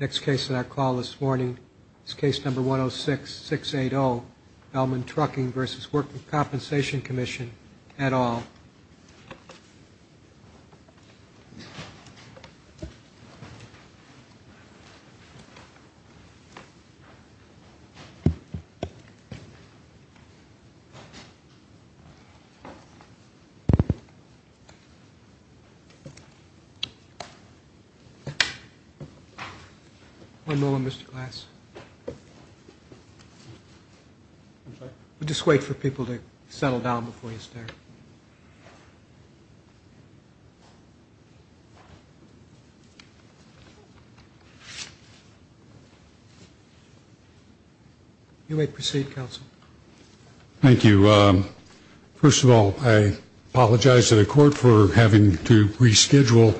Next case on our call this morning is case number 106680, Beelman Trucking v. Workers' Compensation Commission, et al. One moment, Mr. Glass. We'll just wait for people to settle down before you start. You may proceed, Counsel. Thank you. First of all, I apologize to the Court for having to reschedule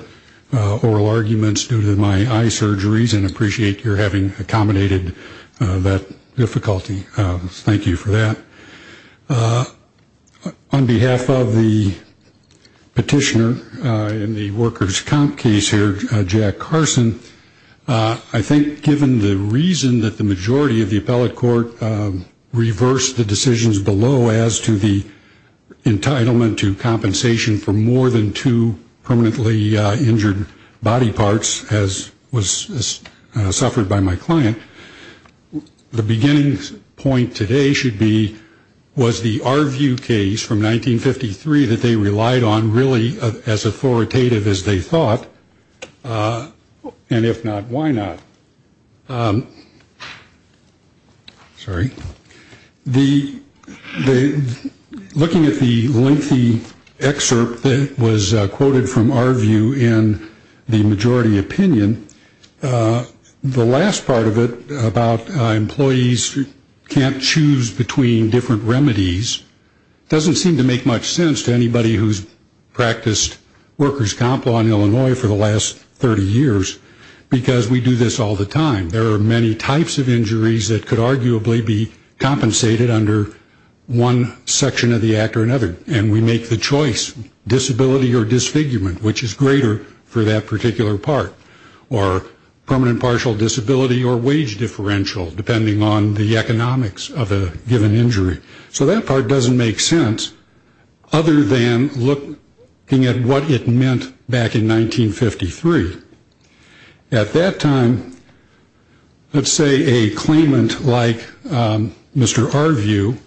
oral arguments due to my eye surgeries, and appreciate your having accommodated that difficulty. Thank you for that. On behalf of the petitioner in the Workers' Comp case here, Jack Carson, I think given the reason that the majority of the appellate court reversed the decisions below as to the entitlement to compensation for more than two permanently injured body parts, as was suffered by my client, the beginning point today should be was the Arview case from 1953 that they relied on really as authoritative as they thought. And if not, why not? Sorry. Looking at the lengthy excerpt that was quoted from Arview in the majority opinion, the last part of it about employees who can't choose between different remedies doesn't seem to make much sense to anybody who's practiced Workers' Comp Law in Illinois for the last 30 years, because we do this all the time. There are many types of injuries that could arguably be compensated under one section of the Act or another, and we make the choice, disability or disfigurement, which is greater for that particular part, or permanent partial disability or wage differential, depending on the economics of a given injury. So that part doesn't make sense other than looking at what it meant back in 1953. At that time, let's say a claimant like Mr. Arview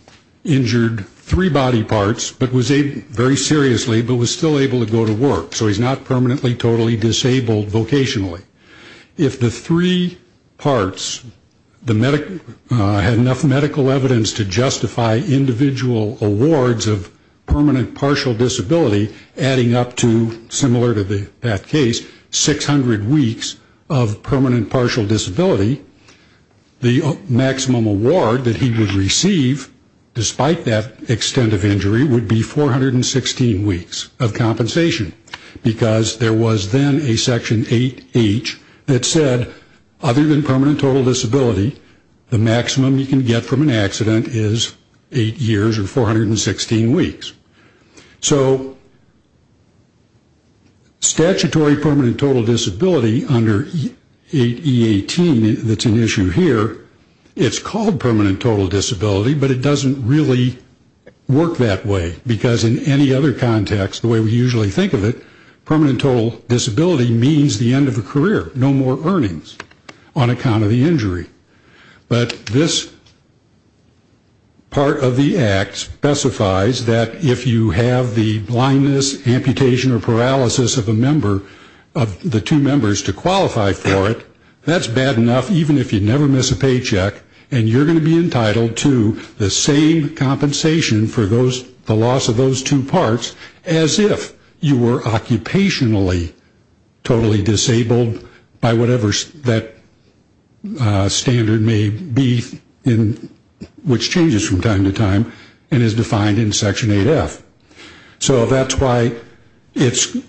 injured three body parts, but was very seriously, but was still able to go to work, so he's not permanently, totally disabled vocationally. If the three parts had enough medical evidence to justify individual awards of permanent partial disability, adding up to, similar to that case, 600 weeks of permanent partial disability, the maximum award that he would receive, despite that extent of injury, would be 416 weeks of compensation, because there was then a section 8H that said, other than permanent total disability, the maximum you can get from an accident is eight years or 416 weeks. So statutory permanent total disability under 8E18 that's an issue here, it's called permanent total disability, but it doesn't really work that way, because in any other context, the way we usually think of it, permanent total disability means the end of a career, no more earnings on account of the injury. But this part of the act specifies that if you have the blindness, amputation, or paralysis of a member of the two members to qualify for it, that's bad enough, even if you never miss a paycheck, and you're going to be entitled to the same compensation for the loss of those two parts as if you were occupationally totally disabled, by whatever that standard may be, which changes from time to time, and is defined in section 8F. So that's why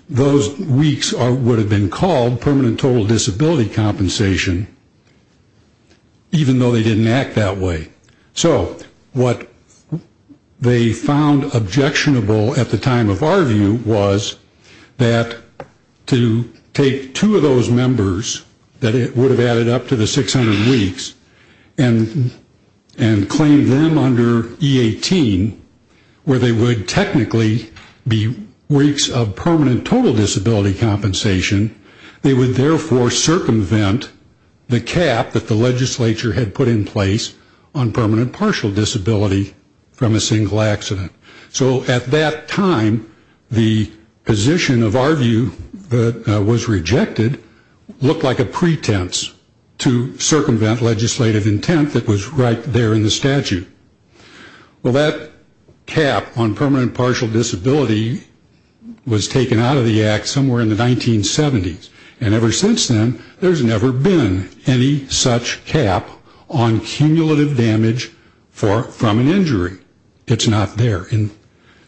those weeks would have been called permanent total disability compensation, even though they didn't act that way. So what they found objectionable at the time of our view was that to take two of those members, that it would have added up to the 600 weeks, and claim them under E18, where they would technically be weeks of permanent total disability compensation. They would therefore circumvent the cap that the legislature had put in place on permanent partial disability from a single accident. So at that time, the position of our view that was rejected looked like a pretense to circumvent legislative intent that was right there in the statute. Well, that cap on permanent partial disability was taken out of the act somewhere in the 1970s, and ever since then, there's never been any such cap on cumulative damage from an injury. It's not there.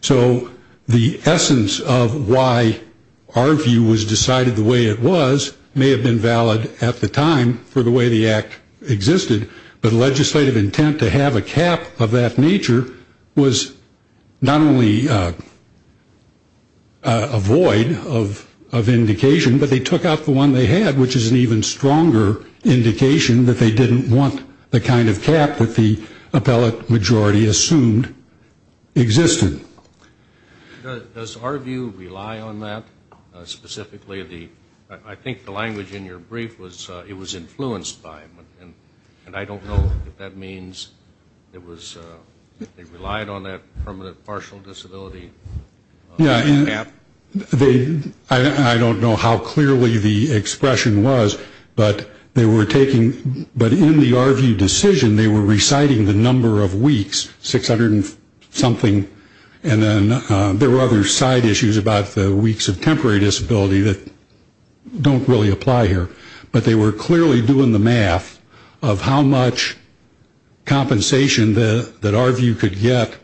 So the essence of why our view was decided the way it was may have been valid at the time for the way the act existed, but legislative intent to have a cap of that nature was not only a void of indication, but they took out the one they had, which is an even stronger indication that they didn't want the kind of cap that the appellate majority assumed existed. Does our view rely on that specifically? I think the language in your brief was it was influenced by it, and I don't know if that means they relied on that permanent partial disability cap. I don't know how clearly the expression was, but in the our view decision, they were reciting the number of weeks, 600 and something, and then there were other side issues about the weeks of temporary disability that don't really apply here, but they were clearly doing the math of how much compensation that our view could get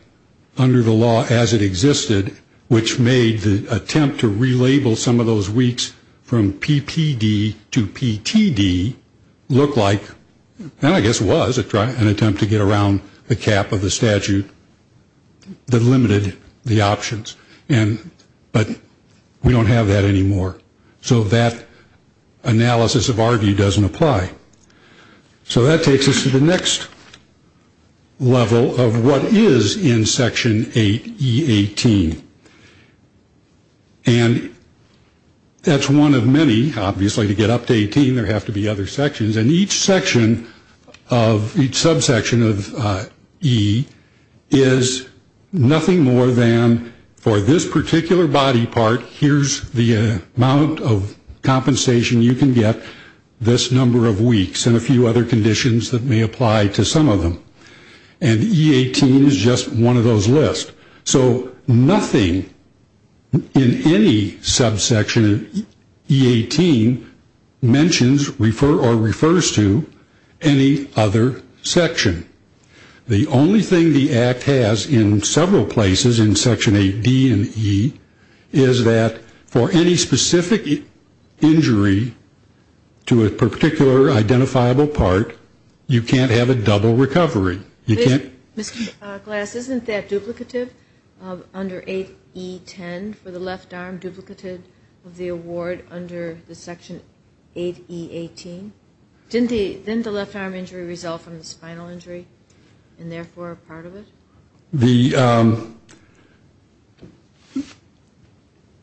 under the law as it existed, which made the attempt to relabel some of those weeks from PPD to PTD look like, and I guess was an attempt to get around the cap of the statute that limited the options, but we don't have that anymore, so that analysis of our view doesn't apply. So that takes us to the next level of what is in Section 8E18, and that's one of many, obviously to get up to 18 there have to be other sections, and each section of each subsection of E is nothing more than for this particular body part, here's the amount of compensation you can get this number of weeks and a few other conditions that may apply to some of them, and E18 is just one of those lists. So nothing in any subsection of E18 mentions or refers to any other section. The only thing the Act has in several places in Section 8D and E is that for any specific injury to a particular identifiable part, you can't have a double recovery. Mr. Glass, isn't that duplicative under 8E10 for the left arm, duplicative of the award under the Section 8E18? Didn't the left arm injury result from the spinal injury and therefore a part of it?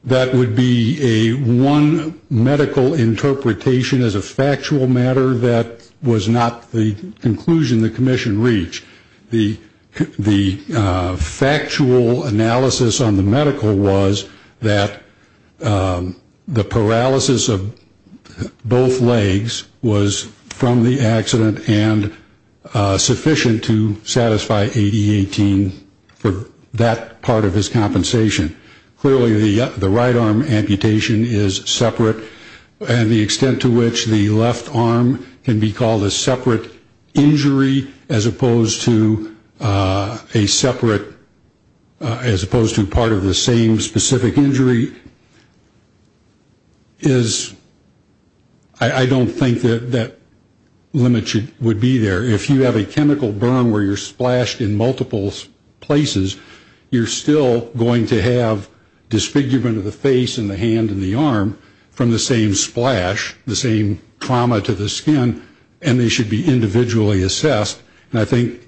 That would be a one medical interpretation as a factual matter that was not the conclusion the commission reached. The factual analysis on the medical was that the paralysis of both legs was from the accident and sufficient to satisfy 8E18 for that part of his compensation. Clearly the right arm amputation is separate, and the extent to which the left arm can be called a separate injury as opposed to a separate, as opposed to part of the same specific injury is, I don't think that that limit would be there. If you have a chemical burn where you're splashed in multiple places, you're still going to have disfigurement of the face and the hand and the arm from the same splash, the same trauma to the skin, and they should be individually assessed. And I think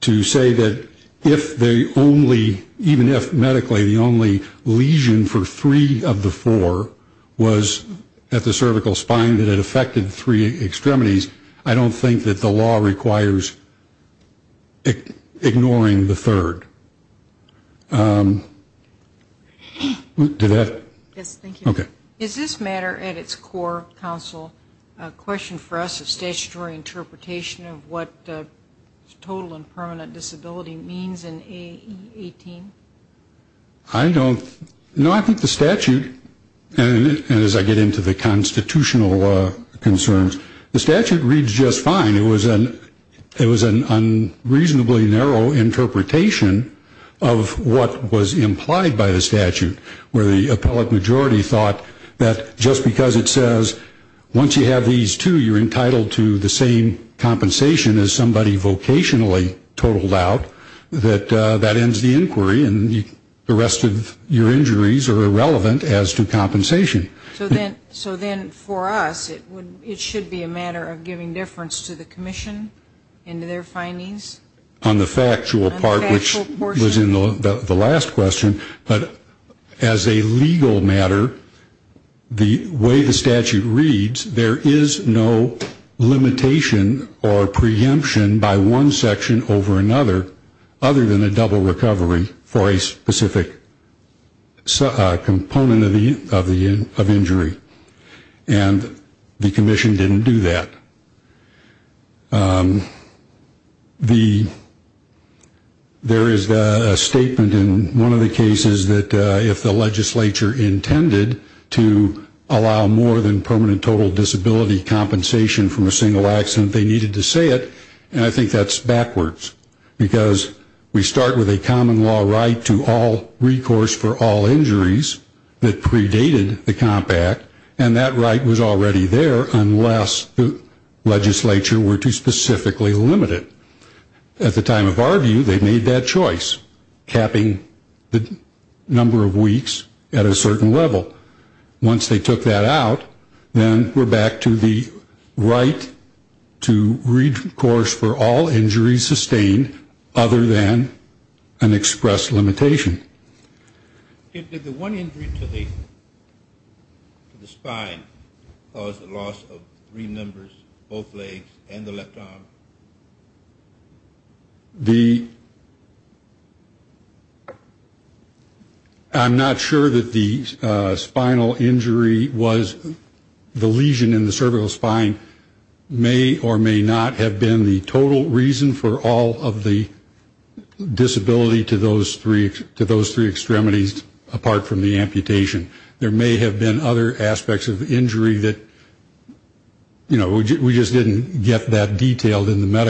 to say that if they only, even if medically the only lesion for three of the four was at the cervical spine that it affected three extremities, I don't think that the law requires ignoring the third. Did that? Yes, thank you. Okay. Is this matter at its core, counsel, a question for us of statutory interpretation of what total and permanent disability means in 8E18? I don't, no I think the statute, and as I get into the constitutional concerns, the statute reads just fine. It was an unreasonably narrow interpretation of what was implied by the statute where the appellate majority thought that just because it says once you have these two, you're entitled to the same compensation as somebody vocationally totaled out, that that ends the inquiry and the rest of your injuries are irrelevant as to compensation. So then for us, it should be a matter of giving difference to the commission and to their findings? On the factual part, which was in the last question, but as a legal matter, the way the statute reads, there is no limitation or preemption by one section over another other than a double recovery for a specific component of injury. And the commission didn't do that. There is a statement in one of the cases that if the legislature intended to allow more than permanent total disability compensation from a single accident, they needed to say it, and I think that's backwards. Because we start with a common law right to all recourse for all injuries that predated the compact, and that right was already there unless the legislature were to specifically limit it. At the time of our view, they made that choice, capping the number of weeks at a certain level. Once they took that out, then we're back to the right to recourse for all injuries sustained other than an expressed limitation. Did the one injury to the spine cause the loss of three members, both legs and the left arm? The, I'm not sure that the spinal injury was the lesion in the cervical spine may or may not have been the total reason for all of the disability to those three extremities apart from the amputation. There may have been other aspects of injury that, you know, we just didn't get that detailed yet. I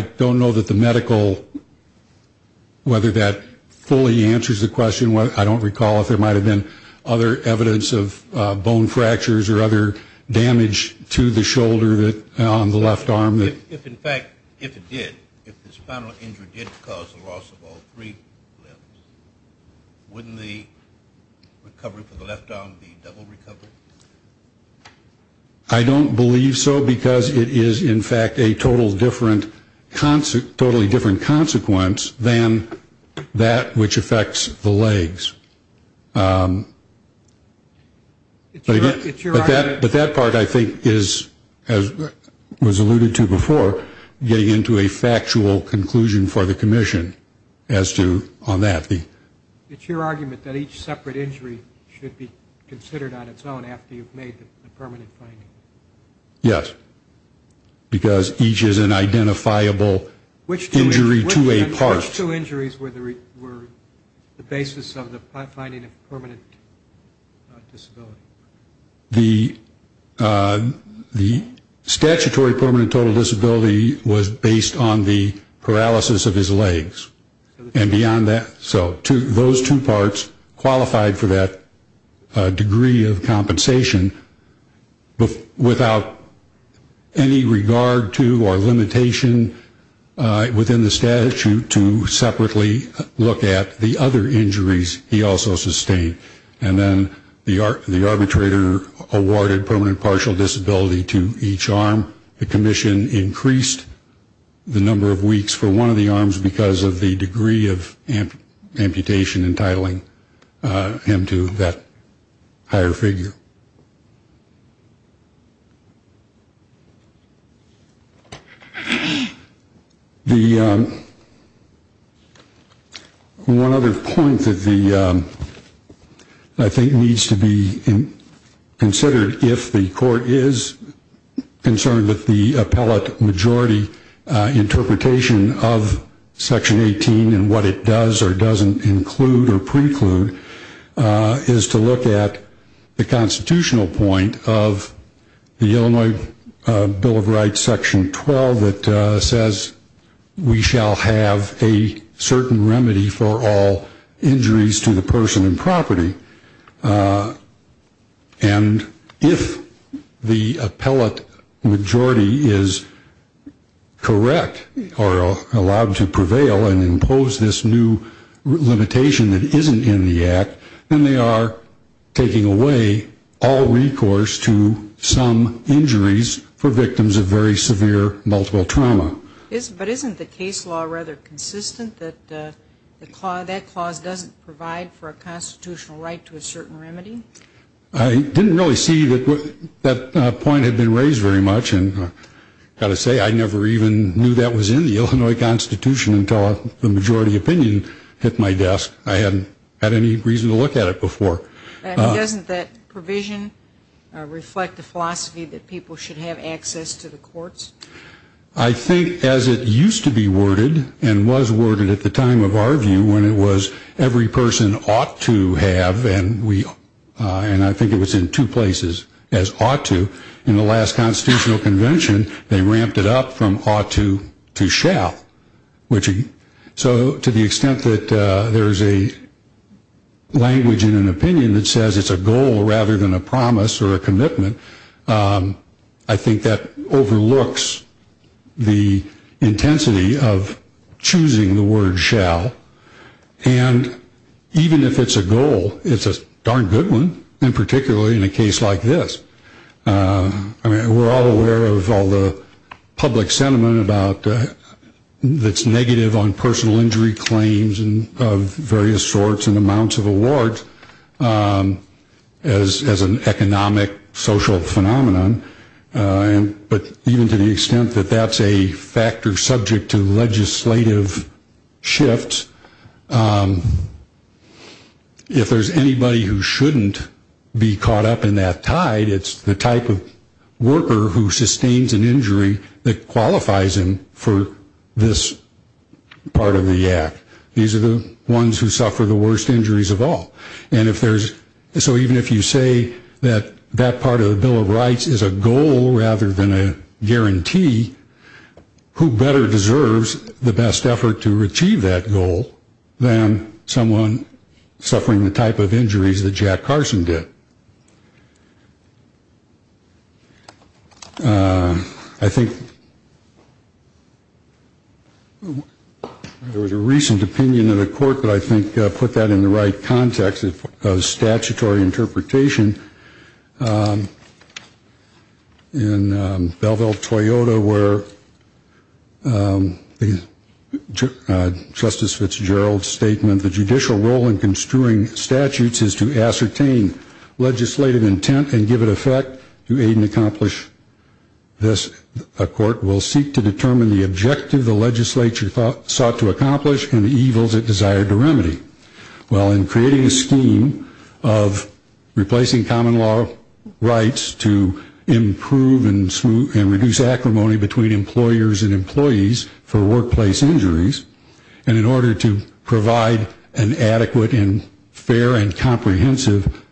don't know that the medical, whether that fully answers the question, I don't recall if there might have been other evidence of bone fractures or other damage to the shoulder on the left arm. If in fact, if it did, if the spinal injury did cause the loss of all three limbs, wouldn't the recovery for the left arm be double recovered? I don't believe so because it is in fact a totally different consequence than that which affects the legs. But that part I think is, as was alluded to before, getting into a factual conclusion for the commission as to on that. It's your argument that each separate injury should be considered on its own after you've made the permanent finding? Yes, because each is an identifiable injury to a part. Which two injuries were the basis of the finding of permanent disability? The statutory permanent total disability was based on the paralysis of his legs. And beyond that, so those two parts qualified for that degree of compensation without any regard to or limitation within the statute to separately look at the other injuries he also sustained. And then the arbitrator awarded permanent partial disability to each arm. The commission increased the number of weeks for one of the arms because of the degree of amputation entitling him to that higher figure. The one other point that the, I think, needs to be considered if the court is concerned with the appellate majority interpretation of section 18 and what it does or doesn't include or preclude, is to look at the constitutional point of the Illinois Bill of Rights section 12 that says, we shall have a certain remedy for all injuries to the person and property. And if the appellate majority is correct or allowed to prevail and impose this new limitation that isn't in the act, then they are taking away all recourse to some injuries for victims of very severe multiple trauma. But isn't the case law rather consistent that that clause doesn't provide for a constitutional right to the person? I didn't really see that that point had been raised very much. And I've got to say, I never even knew that was in the Illinois Constitution until the majority opinion hit my desk. I hadn't had any reason to look at it before. And doesn't that provision reflect the philosophy that people should have access to the courts? I think as it used to be worded and was worded at the time of our view when it was every person ought to have, and I think it was in two places as ought to, in the last constitutional convention, they ramped it up from ought to to shall. So to the extent that there's a language in an opinion that says it's a goal rather than a promise or a commitment, I think that overlooks the intensity of choosing the word shall. And even if it's a goal, it's a darn good one, and particularly in a case like this. We're all aware of all the public sentiment that's negative on personal injury claims of various sorts and amounts of award as an economic, social phenomenon. But even to the extent that that's a factor subject to legislative shifts, if there's anybody who shouldn't be caught up in that tide, it's the type of worker who sustains an injury that qualifies him for this part of the act. These are the ones who suffer the worst injuries of all. So even if you say that that part of the Bill of Rights is a goal rather than a guarantee, who better deserves the best effort to achieve that goal than someone suffering the type of injuries that Jack Carson did? I think there was a recent opinion in the court that I think put that in the right context of statutory interpretation. In Belleville, Toyota, where Justice Fitzgerald's statement, the judicial role in construing statutes is to ascertain legislative intent and give it effect to aid and accomplish this, a court will seek to determine the objective the legislature sought to accomplish and the evils it desired to remedy. Well, in creating a scheme of replacing common law rights to improve and reduce acrimony between employers and employees for workplace injuries, and in order to provide an adequate and fair and comprehensive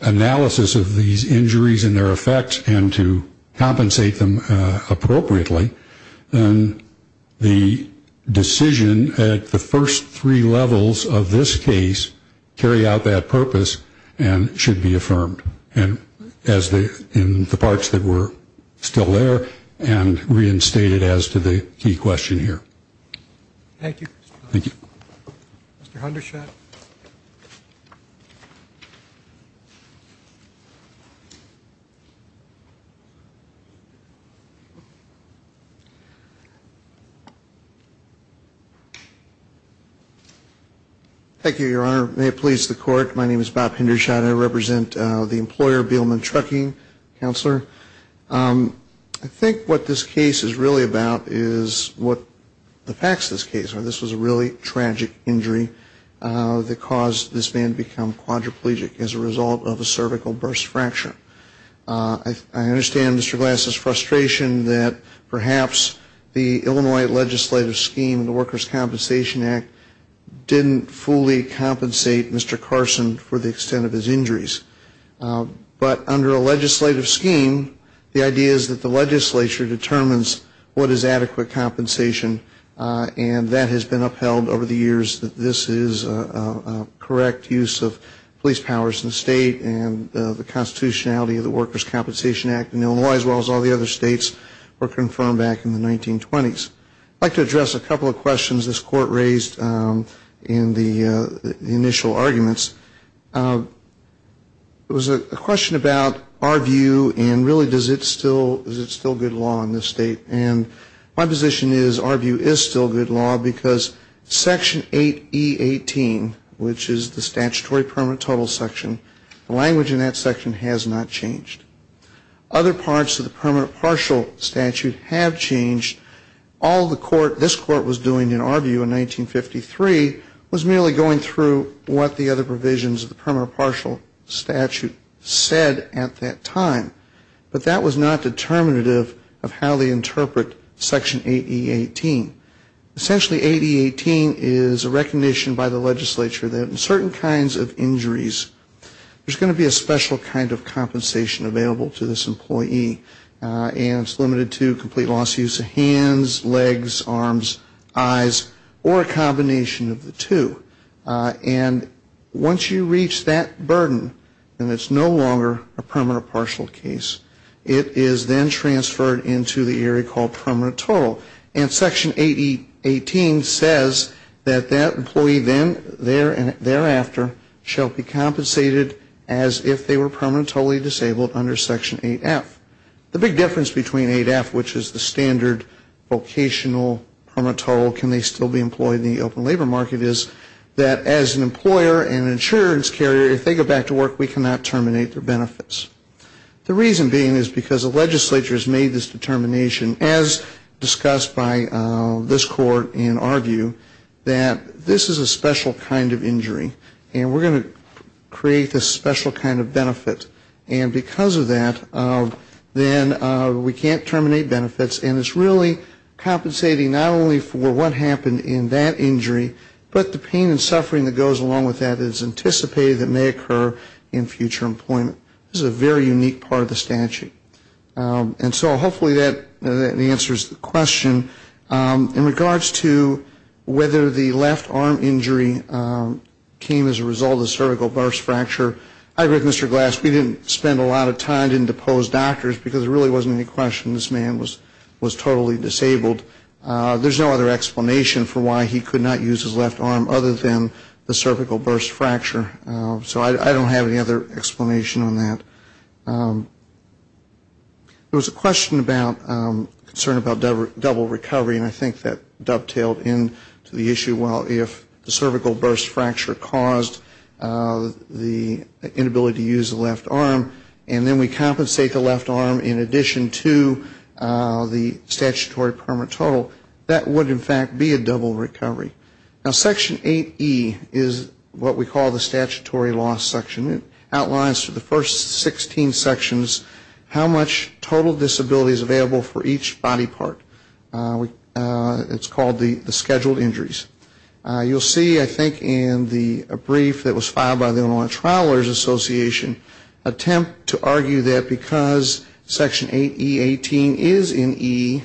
analysis of these injuries and their effects and to compensate them appropriately, then the decision at the first three levels of this case carry out that purpose and should be affirmed. And as in the parts that were still there and reinstated as to the key question here. Thank you. Mr. Hendershot. Thank you, Your Honor. May it please the court, my name is Bob Hendershot. I represent the employer, Beelman Trucking. Counselor, I think what this case is really about is what the facts of this case are. This was a really tragic injury that caused this man to become quadriplegic as a result of a cervical burst fracture. I understand Mr. Glass's frustration that perhaps the Illinois legislative scheme, the Workers' Compensation Act, didn't fully compensate Mr. Carson for the extent of his injuries. But under a legislative scheme, the idea is that the legislature determines what is adequate compensation. And that has been upheld over the years that this is a correct use of police powers in the state. And the constitutionality of the Workers' Compensation Act in Illinois as well as all the other states were confirmed back in the 1920s. I'd like to address a couple of questions this court raised in the initial arguments. There was a question about our view and really is it still good law in this state? And my position is our view is still good law because Section 8E18, which is the statutory permanent total section, the language in that section has not changed. Other parts of the permanent partial statute have changed. All the court, this court was doing in our view in 1953 was merely going through what the other provisions of the permanent partial statute said at that time. But that was not determinative of how they interpret Section 8E18. Essentially 8E18 is a recognition by the legislature that in certain kinds of injuries, there's going to be a special kind of compensation available to this employee. And it's limited to complete lost use of hands, legs, arms, eyes, or a combination of the two. And once you reach that burden, then it's no longer a permanent partial case. It is then transferred into the area called permanent total. And Section 8E18 says that that employee then thereafter shall be compensated as if they were permanently disabled under Section 8F. The big difference between 8F, which is the standard vocational permanent total, can they still be employed in the open labor market, is that as an employer and insurance carrier, if they go back to work, we cannot terminate their benefits. The reason being is because the legislature has made this determination, as discussed by this court in our view, that this is a special kind of injury and we're going to create this special kind of benefit. And because of that, then we can't terminate benefits. And it's really compensating not only for what happened in that injury, but the pain and suffering that goes along with that is anticipated that may occur in future employment. This is a very unique part of the statute. And so hopefully that answers the question. In regards to whether the left arm injury came as a result of the cervical burst fracture, I agree with Mr. Glass. We didn't spend a lot of time, didn't depose doctors, because there really wasn't any question this man was totally disabled. There's no other explanation for why he could not use his left arm other than the cervical burst fracture. So I don't have any other explanation on that. There was a question about, concern about double recovery. And I think that dovetailed into the issue, well, if the cervical burst fracture caused the inability to use the left arm, and then we compensate the left arm in addition to the statutory permanent total, that would in fact be a double recovery. Now, Section 8E is what we call the statutory loss section. It outlines for the first 16 sections how much total disability is available for each body part. It's called the scheduled injuries. You'll see, I think, in the brief that was filed by the Illinois Travelers Association, attempt to argue that because Section 8E18 is in E,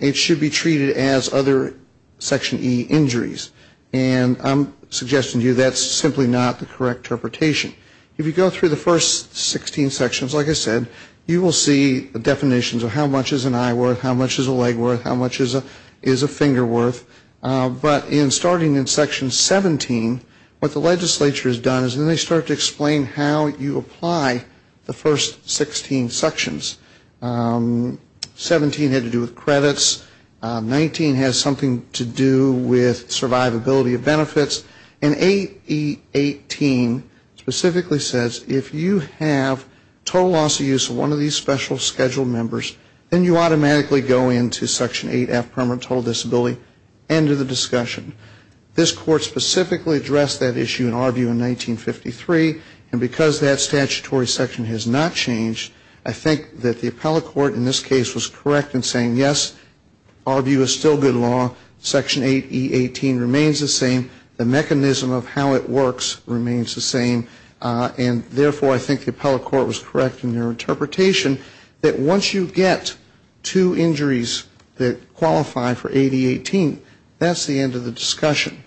it should be treated as other Section E injuries. And I'm suggesting to you that's simply not the correct interpretation. If you go through the first 16 sections, like I said, you will see the definitions of how much is an eye worth, how much is a leg worth, how much is a finger worth. But in starting in Section 17, what the legislature has done is they start to explain how you apply the first 16 sections. 17 had to do with credits. 19 has something to do with survivability of benefits. And 8E18 specifically says if you have total loss of use of one of these special scheduled members, you're going to have to pay a fine of $100,000. That's the end of the discussion. This Court specifically addressed that issue in our view in 1953, and because that statutory section has not changed, I think that the appellate court in this case was correct in saying, yes, our view is still good law. Section 8E18 remains the same. The mechanism of how it works remains the same. And therefore, I think the appellate court was correct in their interpretation that once you get two injuries that qualify for 8E18, that's the end of the discussion.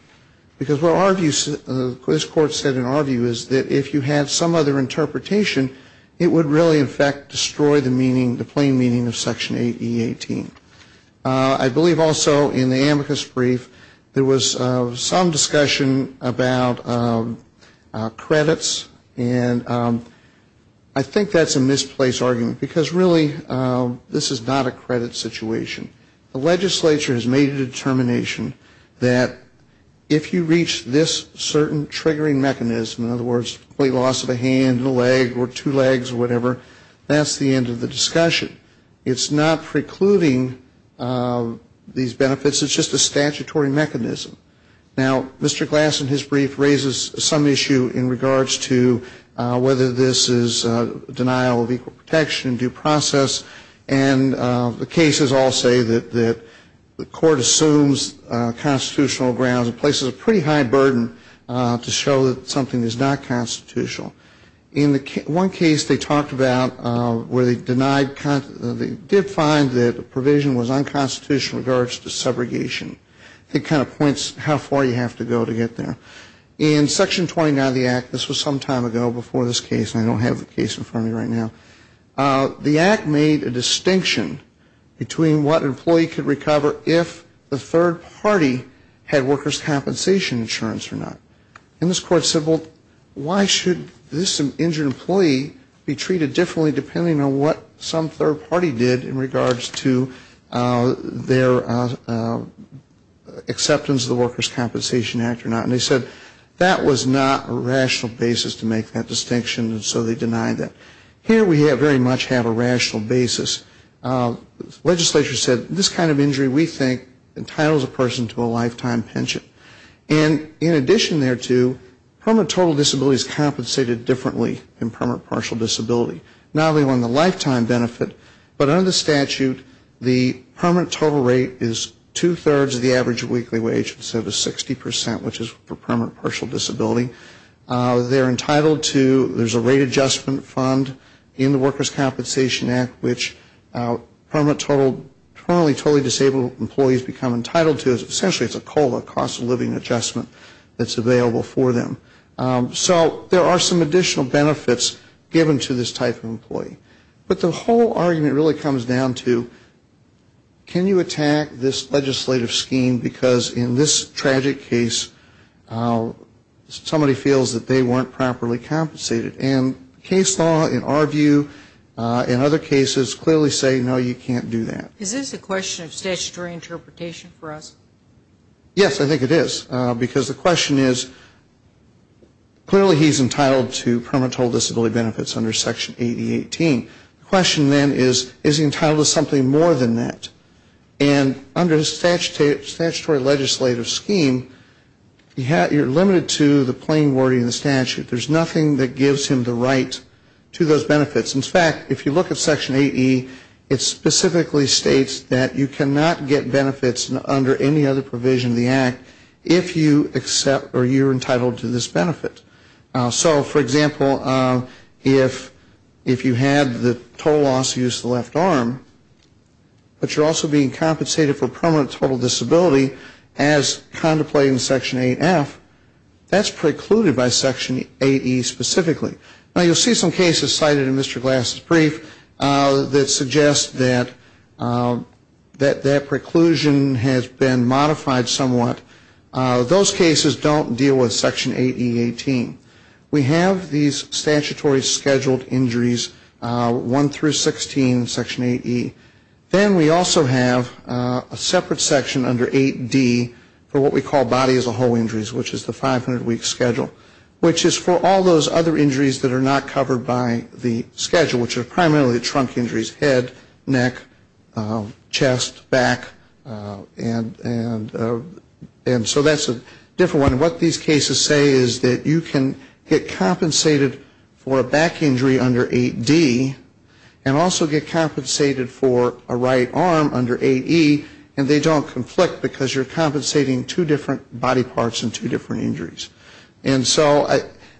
Because what our view, what this Court said in our view is that if you have some other interpretation, it would really in fact destroy the meaning, the plain meaning of Section 8E18. I believe also in the amicus brief there was some discussion about credits, and I think that's a misplaced argument, because really this is not a credit situation. If you reach this certain triggering mechanism, in other words, complete loss of a hand and a leg or two legs or whatever, that's the end of the discussion. It's not precluding these benefits. It's just a statutory mechanism. Now, Mr. Glass in his brief raises some issue in regards to whether this is denial of equal protection, due process, and the cases all say that the Court assumes constitutional grounds and places a pretty high burden to show that something is not constitutional. In one case they talked about where they denied, they did find that the provision was unconstitutional in regards to segregation. It kind of points how far you have to go to get there. In Section 29 of the Act, this was some time ago before this case, and I don't have the case in front of me right now. The Act made a distinction between what an employee could recover if the third party had workers' compensation insurance or not. And this Court said, well, why should this injured employee be treated differently depending on what some third party did in regards to their acceptance of the Workers' Compensation Act or not. And they said that was not a rational basis to make that distinction, and so they denied that. Here we very much have a rational basis. Legislature said this kind of injury we think entitles a person to a lifetime pension. And in addition thereto, permanent total disability is compensated differently than permanent partial disability. Not only on the lifetime benefit, but under the statute the permanent total rate is two-thirds of the average weekly wage instead of 60%, which is for permanent partial disability. They're entitled to, there's a rate adjustment fund in the Workers' Compensation Act, which permanent total, permanently totally disabled employees become entitled to. Essentially it's a COLA, cost of living adjustment that's available for them. So there are some additional benefits given to this type of employee. But the whole argument really comes down to, can you attack this legislative scheme because in this tragic case somebody feels that they weren't properly compensated? And case law in our view, in other cases, clearly say, no, you can't do that. Is this a question of statutory interpretation for us? Yes, I think it is. Because the question is, clearly he's entitled to permanent total disability benefits under Section 8018. The question then is, is he entitled to something more than that? And under the statutory legislative scheme, you're limited to the plain wording of the statute. There's nothing that gives him the right to those benefits. In fact, if you look at Section 80, it specifically states that you cannot get benefits under any other provision of the Act if you accept or you're entitled to this benefit. So, for example, if you had the total loss of use of the left arm, but you're also being compensated for permanent total disability as contemplated in Section 8F, that's precluded by Section 8E specifically. Now, you'll see some cases cited in Mr. Glass's brief that suggest that that preclusion has been modified somewhat. Those cases don't deal with Section 8E18. We have these statutory scheduled injuries, 1 through 16, Section 8E. Then we also have a separate section under 8D for what we call body as a whole injuries, which is the 500-week schedule, which is for all those other injuries that are not covered by the schedule, which are primarily trunk injuries, head, neck, chest, back, and so that's a different one. And what these cases say is that you can get compensated for a back injury under 8D and also get compensated for a right arm under 8E, and they don't conflict because you're compensating two different body parts and two different injuries. And so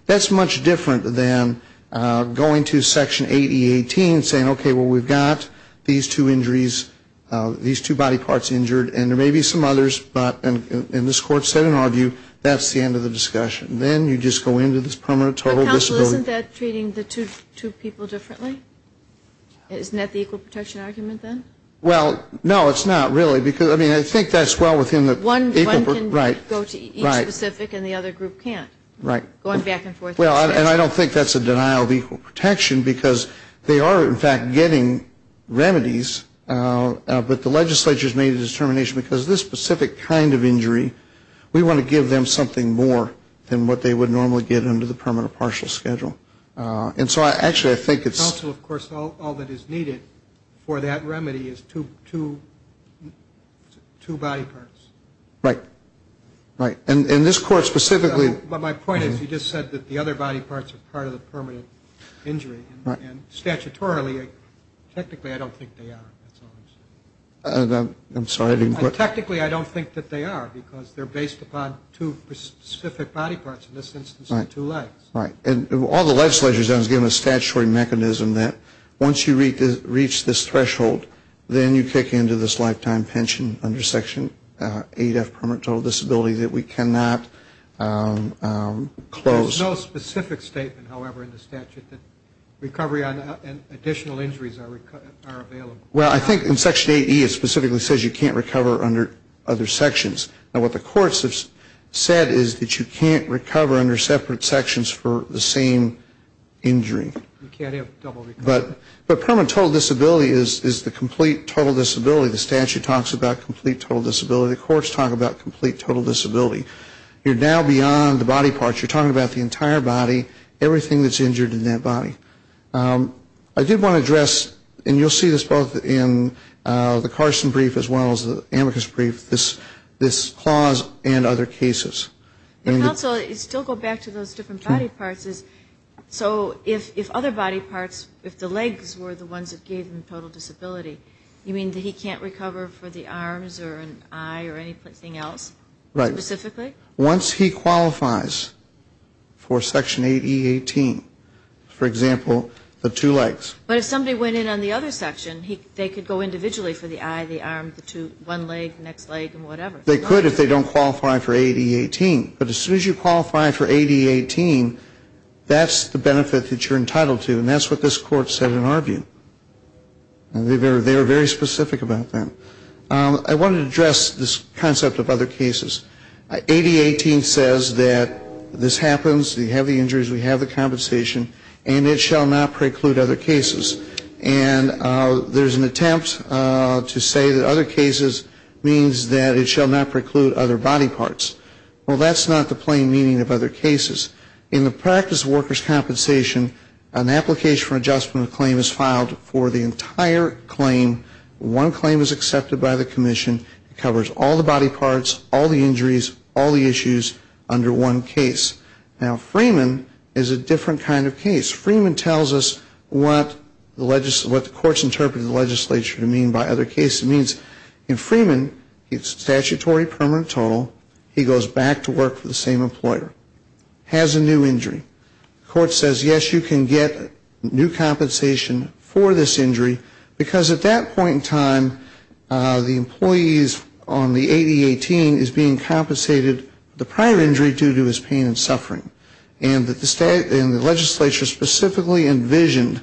that's much different than going to Section 8E18 and saying, okay, well, we've got these two injuries, these two body parts injured, and there may be some others, but, and this Court said in our view, that's the end of the discussion. Then you just go into this permanent total disability. But, counsel, isn't that treating the two people differently? Isn't that the equal protection argument, then? Well, no, it's not, really, because, I mean, I think that's well within the equal protection. One can go to each specific and the other group can't, going back and forth. Well, and I don't think that's a denial of equal protection, because they are, in fact, getting remedies, but the legislature's made a determination, because this specific kind of injury, we want to give them something more than what they would normally get under the permanent partial schedule. And so, actually, I think it's... Counsel, of course, all that is needed for that remedy is two body parts. Right. Right. And this Court specifically... But my point is, you just said that the other body parts are part of the permanent injury. And statutorily, technically, I don't think they are, that's all I'm saying. I'm sorry, I didn't quite... Technically, I don't think that they are, because they're based upon two specific body parts, in this instance, the two legs. Right. And all the legislature has done is given a statutory mechanism that once you reach this threshold, then you kick into this lifetime pension under Section 8F, permanent total disability, that we cannot close. There's no specific statement, however, in the statute that recovery and additional injuries are available. Well, I think in Section 8E, it specifically says you can't recover under other sections. Now, what the courts have said is that you can't recover under separate sections for the same injury. You can't have double recovery. But permanent total disability is the complete total disability. The statute talks about complete total disability. The courts talk about complete total disability. You're now beyond the body parts. You're talking about the entire body, everything that's injured in that body. I did want to address, and you'll see this both in the Carson brief as well as the Amicus brief, this clause and other cases. Your counsel, you still go back to those different body parts. So if other body parts, if the legs were the ones that gave him total disability, you mean that he can't recover for the arms or an eye or anything else? Right. Once he qualifies for Section 8E18, for example, the two legs. But if somebody went in on the other section, they could go individually for the eye, the arm, the two, one leg, next leg, and whatever. They could if they don't qualify for 8E18. But as soon as you qualify for 8E18, that's the benefit that you're entitled to, and that's what this Court said in our view. And they were very specific about that. I wanted to address this concept of other cases. 8E18 says that this happens, we have the injuries, we have the compensation, and it shall not preclude other cases. And there's an attempt to say that other cases means that it shall not preclude other body parts. Well, that's not the plain meaning of other cases. In the practice of workers' compensation, an application for adjustment of claim is filed for the entire claim. One claim is accepted by the commission. It covers all the body parts, all the injuries, all the issues under one case. Now, Freeman is a different kind of case. Freeman tells us what the courts interpret the legislature to mean by other cases. It means in Freeman, it's statutory permanent total. He goes back to work for the same employer, has a new injury. The court says, yes, you can get new compensation for this injury, because at that point in time, the employees on the 8E18 is being compensated for the prior injury due to his pain and suffering. And the legislature specifically envisioned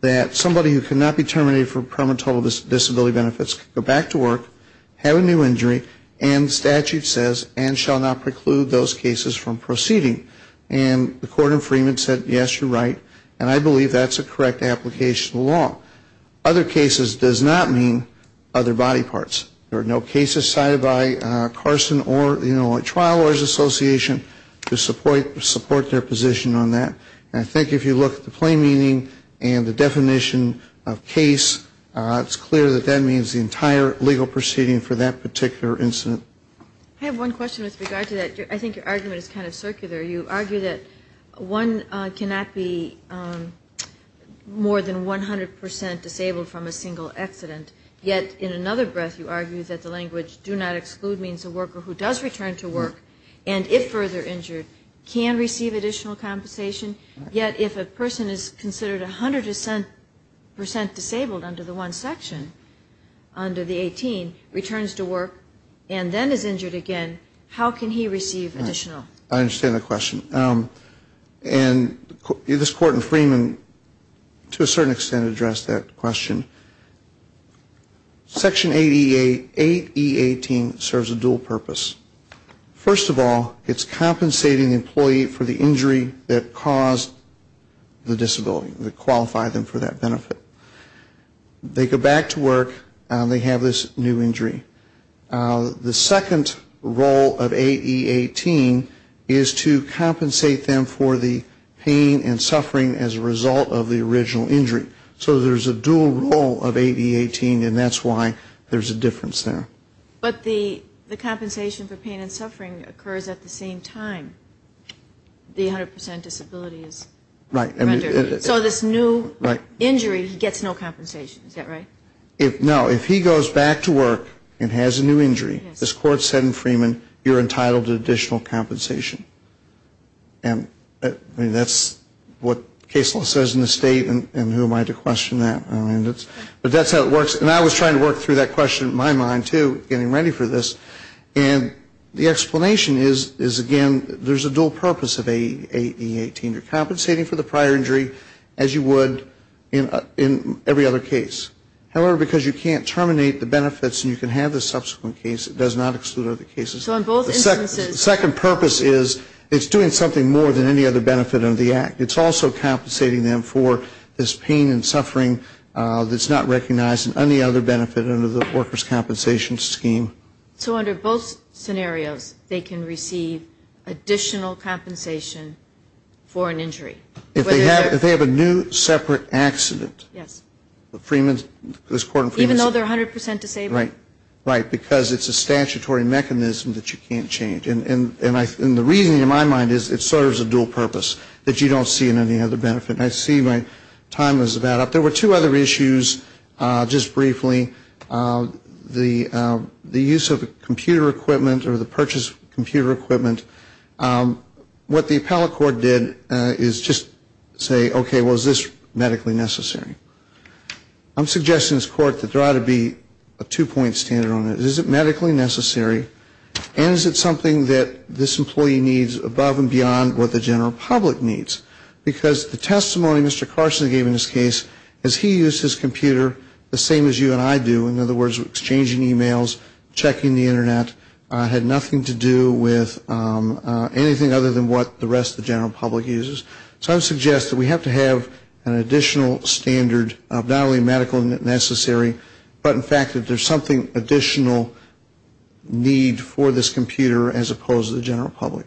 that somebody who cannot be terminated for permanent total disability benefits can go back to work, have a new injury, and statute says, and shall not preclude those cases from proceeding. And the court in Freeman said, yes, you're right, and I believe that's a correct application of the law. Other cases does not mean other body parts. There are no cases cited by Carson or, you know, a trial lawyers association to support their position on that. And I think if you look at the plain meaning and the definition of case, it's clear that that means the entire legal proceeding for that particular incident. I have one question with regard to that. I think your argument is kind of circular. You argue that one cannot be more than 100 percent disabled from a single accident, yet in another breath you argue that the language do not exclude means a worker who does return to work, and if further injured, can receive additional compensation. Yet if a person is considered 100 percent disabled under the one section, under the 18, returns to work, and then is injured again, how can he receive additional? I understand the question. And this court in Freeman, to a certain extent, addressed that question. Section 8E18 serves a dual purpose. First of all, it's compensating the employee for the injury that caused the disability, that qualified them for that benefit. They go back to work. They have this new injury. The second role of 8E18 is to compensate them for the pain and suffering as a result of the original injury. So there's a dual role of 8E18, and that's why there's a difference there. But the compensation for pain and suffering occurs at the same time the 100 percent disability is rendered. So this new injury, he gets no compensation, is that right? No, if he goes back to work and has a new injury, as court said in Freeman, you're entitled to additional compensation. And that's what Case Law says in the state, and who am I to question that? But that's how it works, and I was trying to work through that question in my mind, too, getting ready for this. And the explanation is, again, there's a dual purpose of 8E18. You're compensating for the prior injury, as you would in every other case. However, because you can't terminate the benefits and you can have the subsequent case, it does not exclude other cases. The second purpose is it's doing something more than any other benefit under the Act. It's also compensating them for this pain and suffering that's not recognized in any other benefit under the workers' compensation scheme. So under both scenarios, they can receive additional compensation for an injury? If they have a new separate accident. Yes. Even though they're 100 percent disabled? Right, because it's a statutory mechanism that you can't change. And the reasoning in my mind is it serves a dual purpose that you don't see in any other benefit. And I see my time is about up. There were two other issues, just briefly. The use of computer equipment or the purchase of computer equipment. What the appellate court did is just say, okay, well, is this medically necessary? I'm suggesting to this court that there ought to be a two-point standard on it. Is it medically necessary and is it something that this employee needs above and beyond what the general public needs? Because the testimony Mr. Carson gave in this case is he used his computer the same as you and I do. In other words, exchanging e-mails, checking the Internet, had nothing to do with anything other than what the rest of the general public uses. So I would suggest that we have to have an additional standard of not only medically necessary, but in fact that there's something additional need for this computer as opposed to the general public.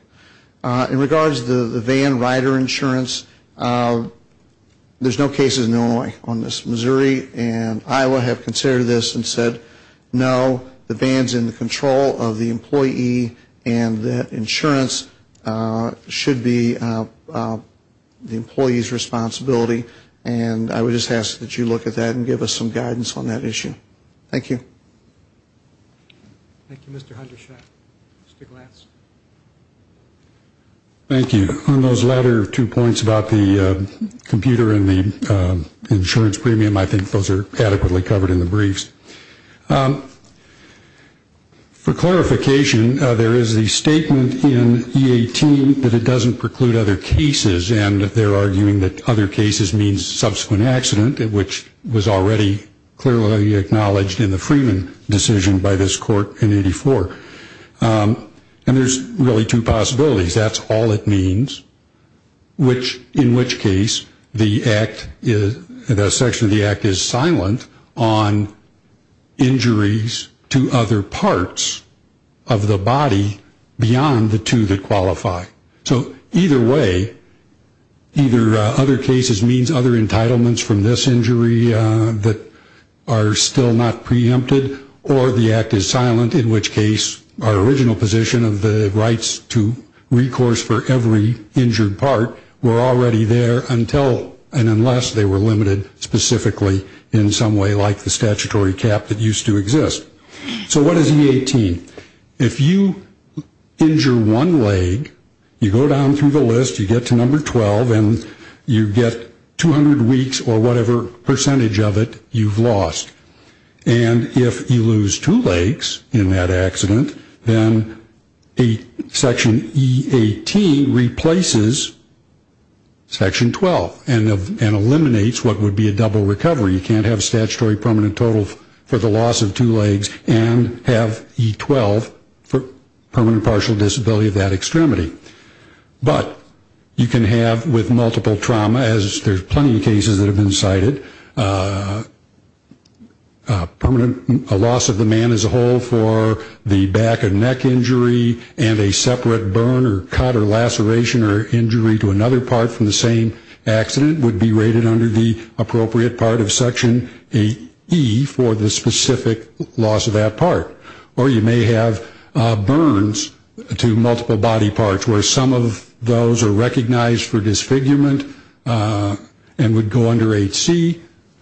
In regards to the van rider insurance, there's no cases in Illinois on this. Missouri and Iowa have considered this and said, no, the van's in the control of the employee and that insurance should be the employee's responsibility. And I would just ask that you look at that and give us some guidance on that issue. Thank you. Thank you. On those latter two points about the computer and the insurance premium, I think those are adequately covered in the briefs. For clarification, there is a statement in E18 that it doesn't preclude other cases, and they're arguing that other cases means subsequent accident, which was already clearly acknowledged in the Freeman decision by this court in 84. And there's really two possibilities. That's all it means, in which case the section of the act is silent on injuries to other parts of the body beyond the two that qualify. So either way, either other cases means other entitlements from this injury that are still not preempted, or the act is silent, in which case our original position of the rights to recourse for every injured part were already there until and unless they were limited specifically in some way like the statutory cap that used to exist. So what is E18? If you injure one leg, you go down through the list, you get to number 12, and you get 200 weeks or whatever percentage of it you've lost. And if you lose two legs in that accident, then Section E18 replaces Section 12 and eliminates what would be a double recovery. You can't have statutory permanent total for the loss of two legs and have E12 for permanent partial disability of that extremity. But you can have with multiple trauma, as there's plenty of cases that have been cited, permanent loss of the man as a whole for the back and neck injury and a separate burn or cut or laceration or injury to another part from the same accident would be rated under the appropriate part of Section 8E for the specific loss of that part. Or you may have burns to multiple body parts where some of those are recognized for disfigurement and would go under 8C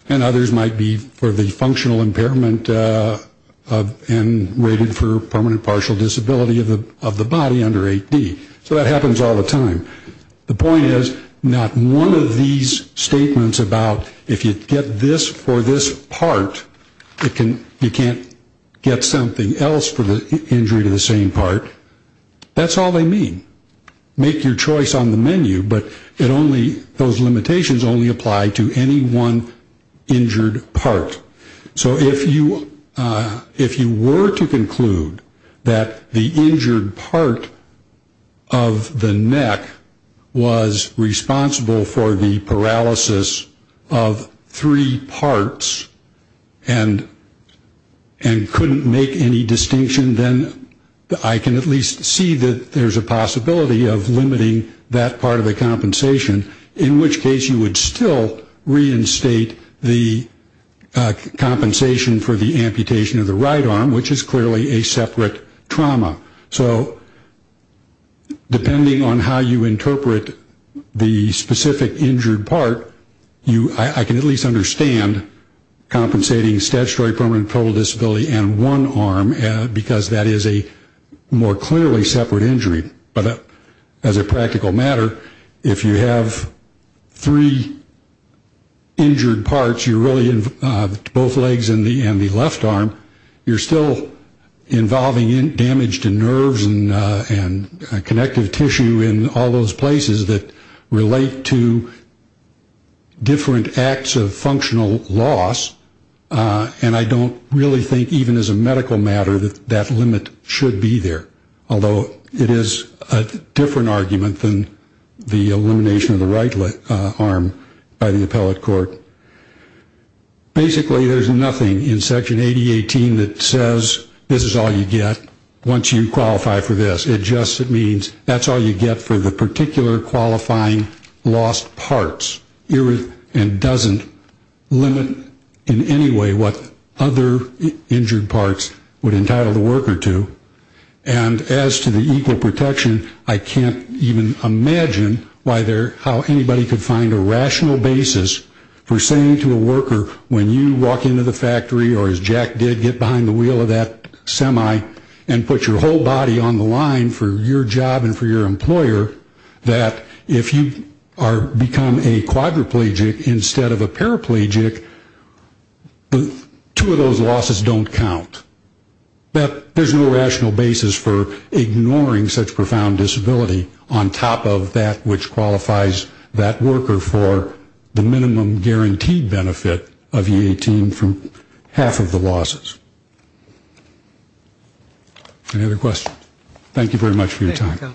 and others might be for the functional impairment and rated for permanent partial disability of the body under 8D. So that happens all the time. The point is not one of these statements about if you get this for this part, you can't get something else for the injury to the same part. That's all they mean. Make your choice on the menu, but those limitations only apply to any one injured part. So if you were to conclude that the injured part of the neck was responsible for the paralysis of three parts and couldn't make any distinction, then I can at least see that there's a possibility of limiting that part of the compensation, in which case you would still reinstate the compensation for the amputation of the right arm, which is clearly a separate trauma. So depending on how you interpret the specific injured part, I can at least understand compensating statutory permanent and total disability and one arm because that is a more clearly separate injury. But as a practical matter, if you have three injured parts, you're really both legs and the left arm, you're still involving damage to nerves and connective tissue in all those places that relate to different acts of functional loss, and I don't really think even as a medical matter that that limit should be there, although it is a different argument than the elimination of the right arm by the appellate court. Basically there's nothing in Section 8018 that says this is all you get once you qualify for this. It just means that's all you get for the particular qualifying lost parts. It doesn't limit in any way what other injured parts would entitle the worker to, and as to the equal protection, I can't even imagine how anybody could find a rational basis for saying to a worker when you walk into the factory or as Jack did, get behind the wheel of that semi and put your whole body on the line for your job and for your employer, that if you become a quadriplegic instead of a paraplegic, two of those losses don't count. There's no rational basis for ignoring such profound disability on top of that which qualifies that worker for the minimum guaranteed benefit of E18 from half of the losses. Any other questions? Thank you very much for your time.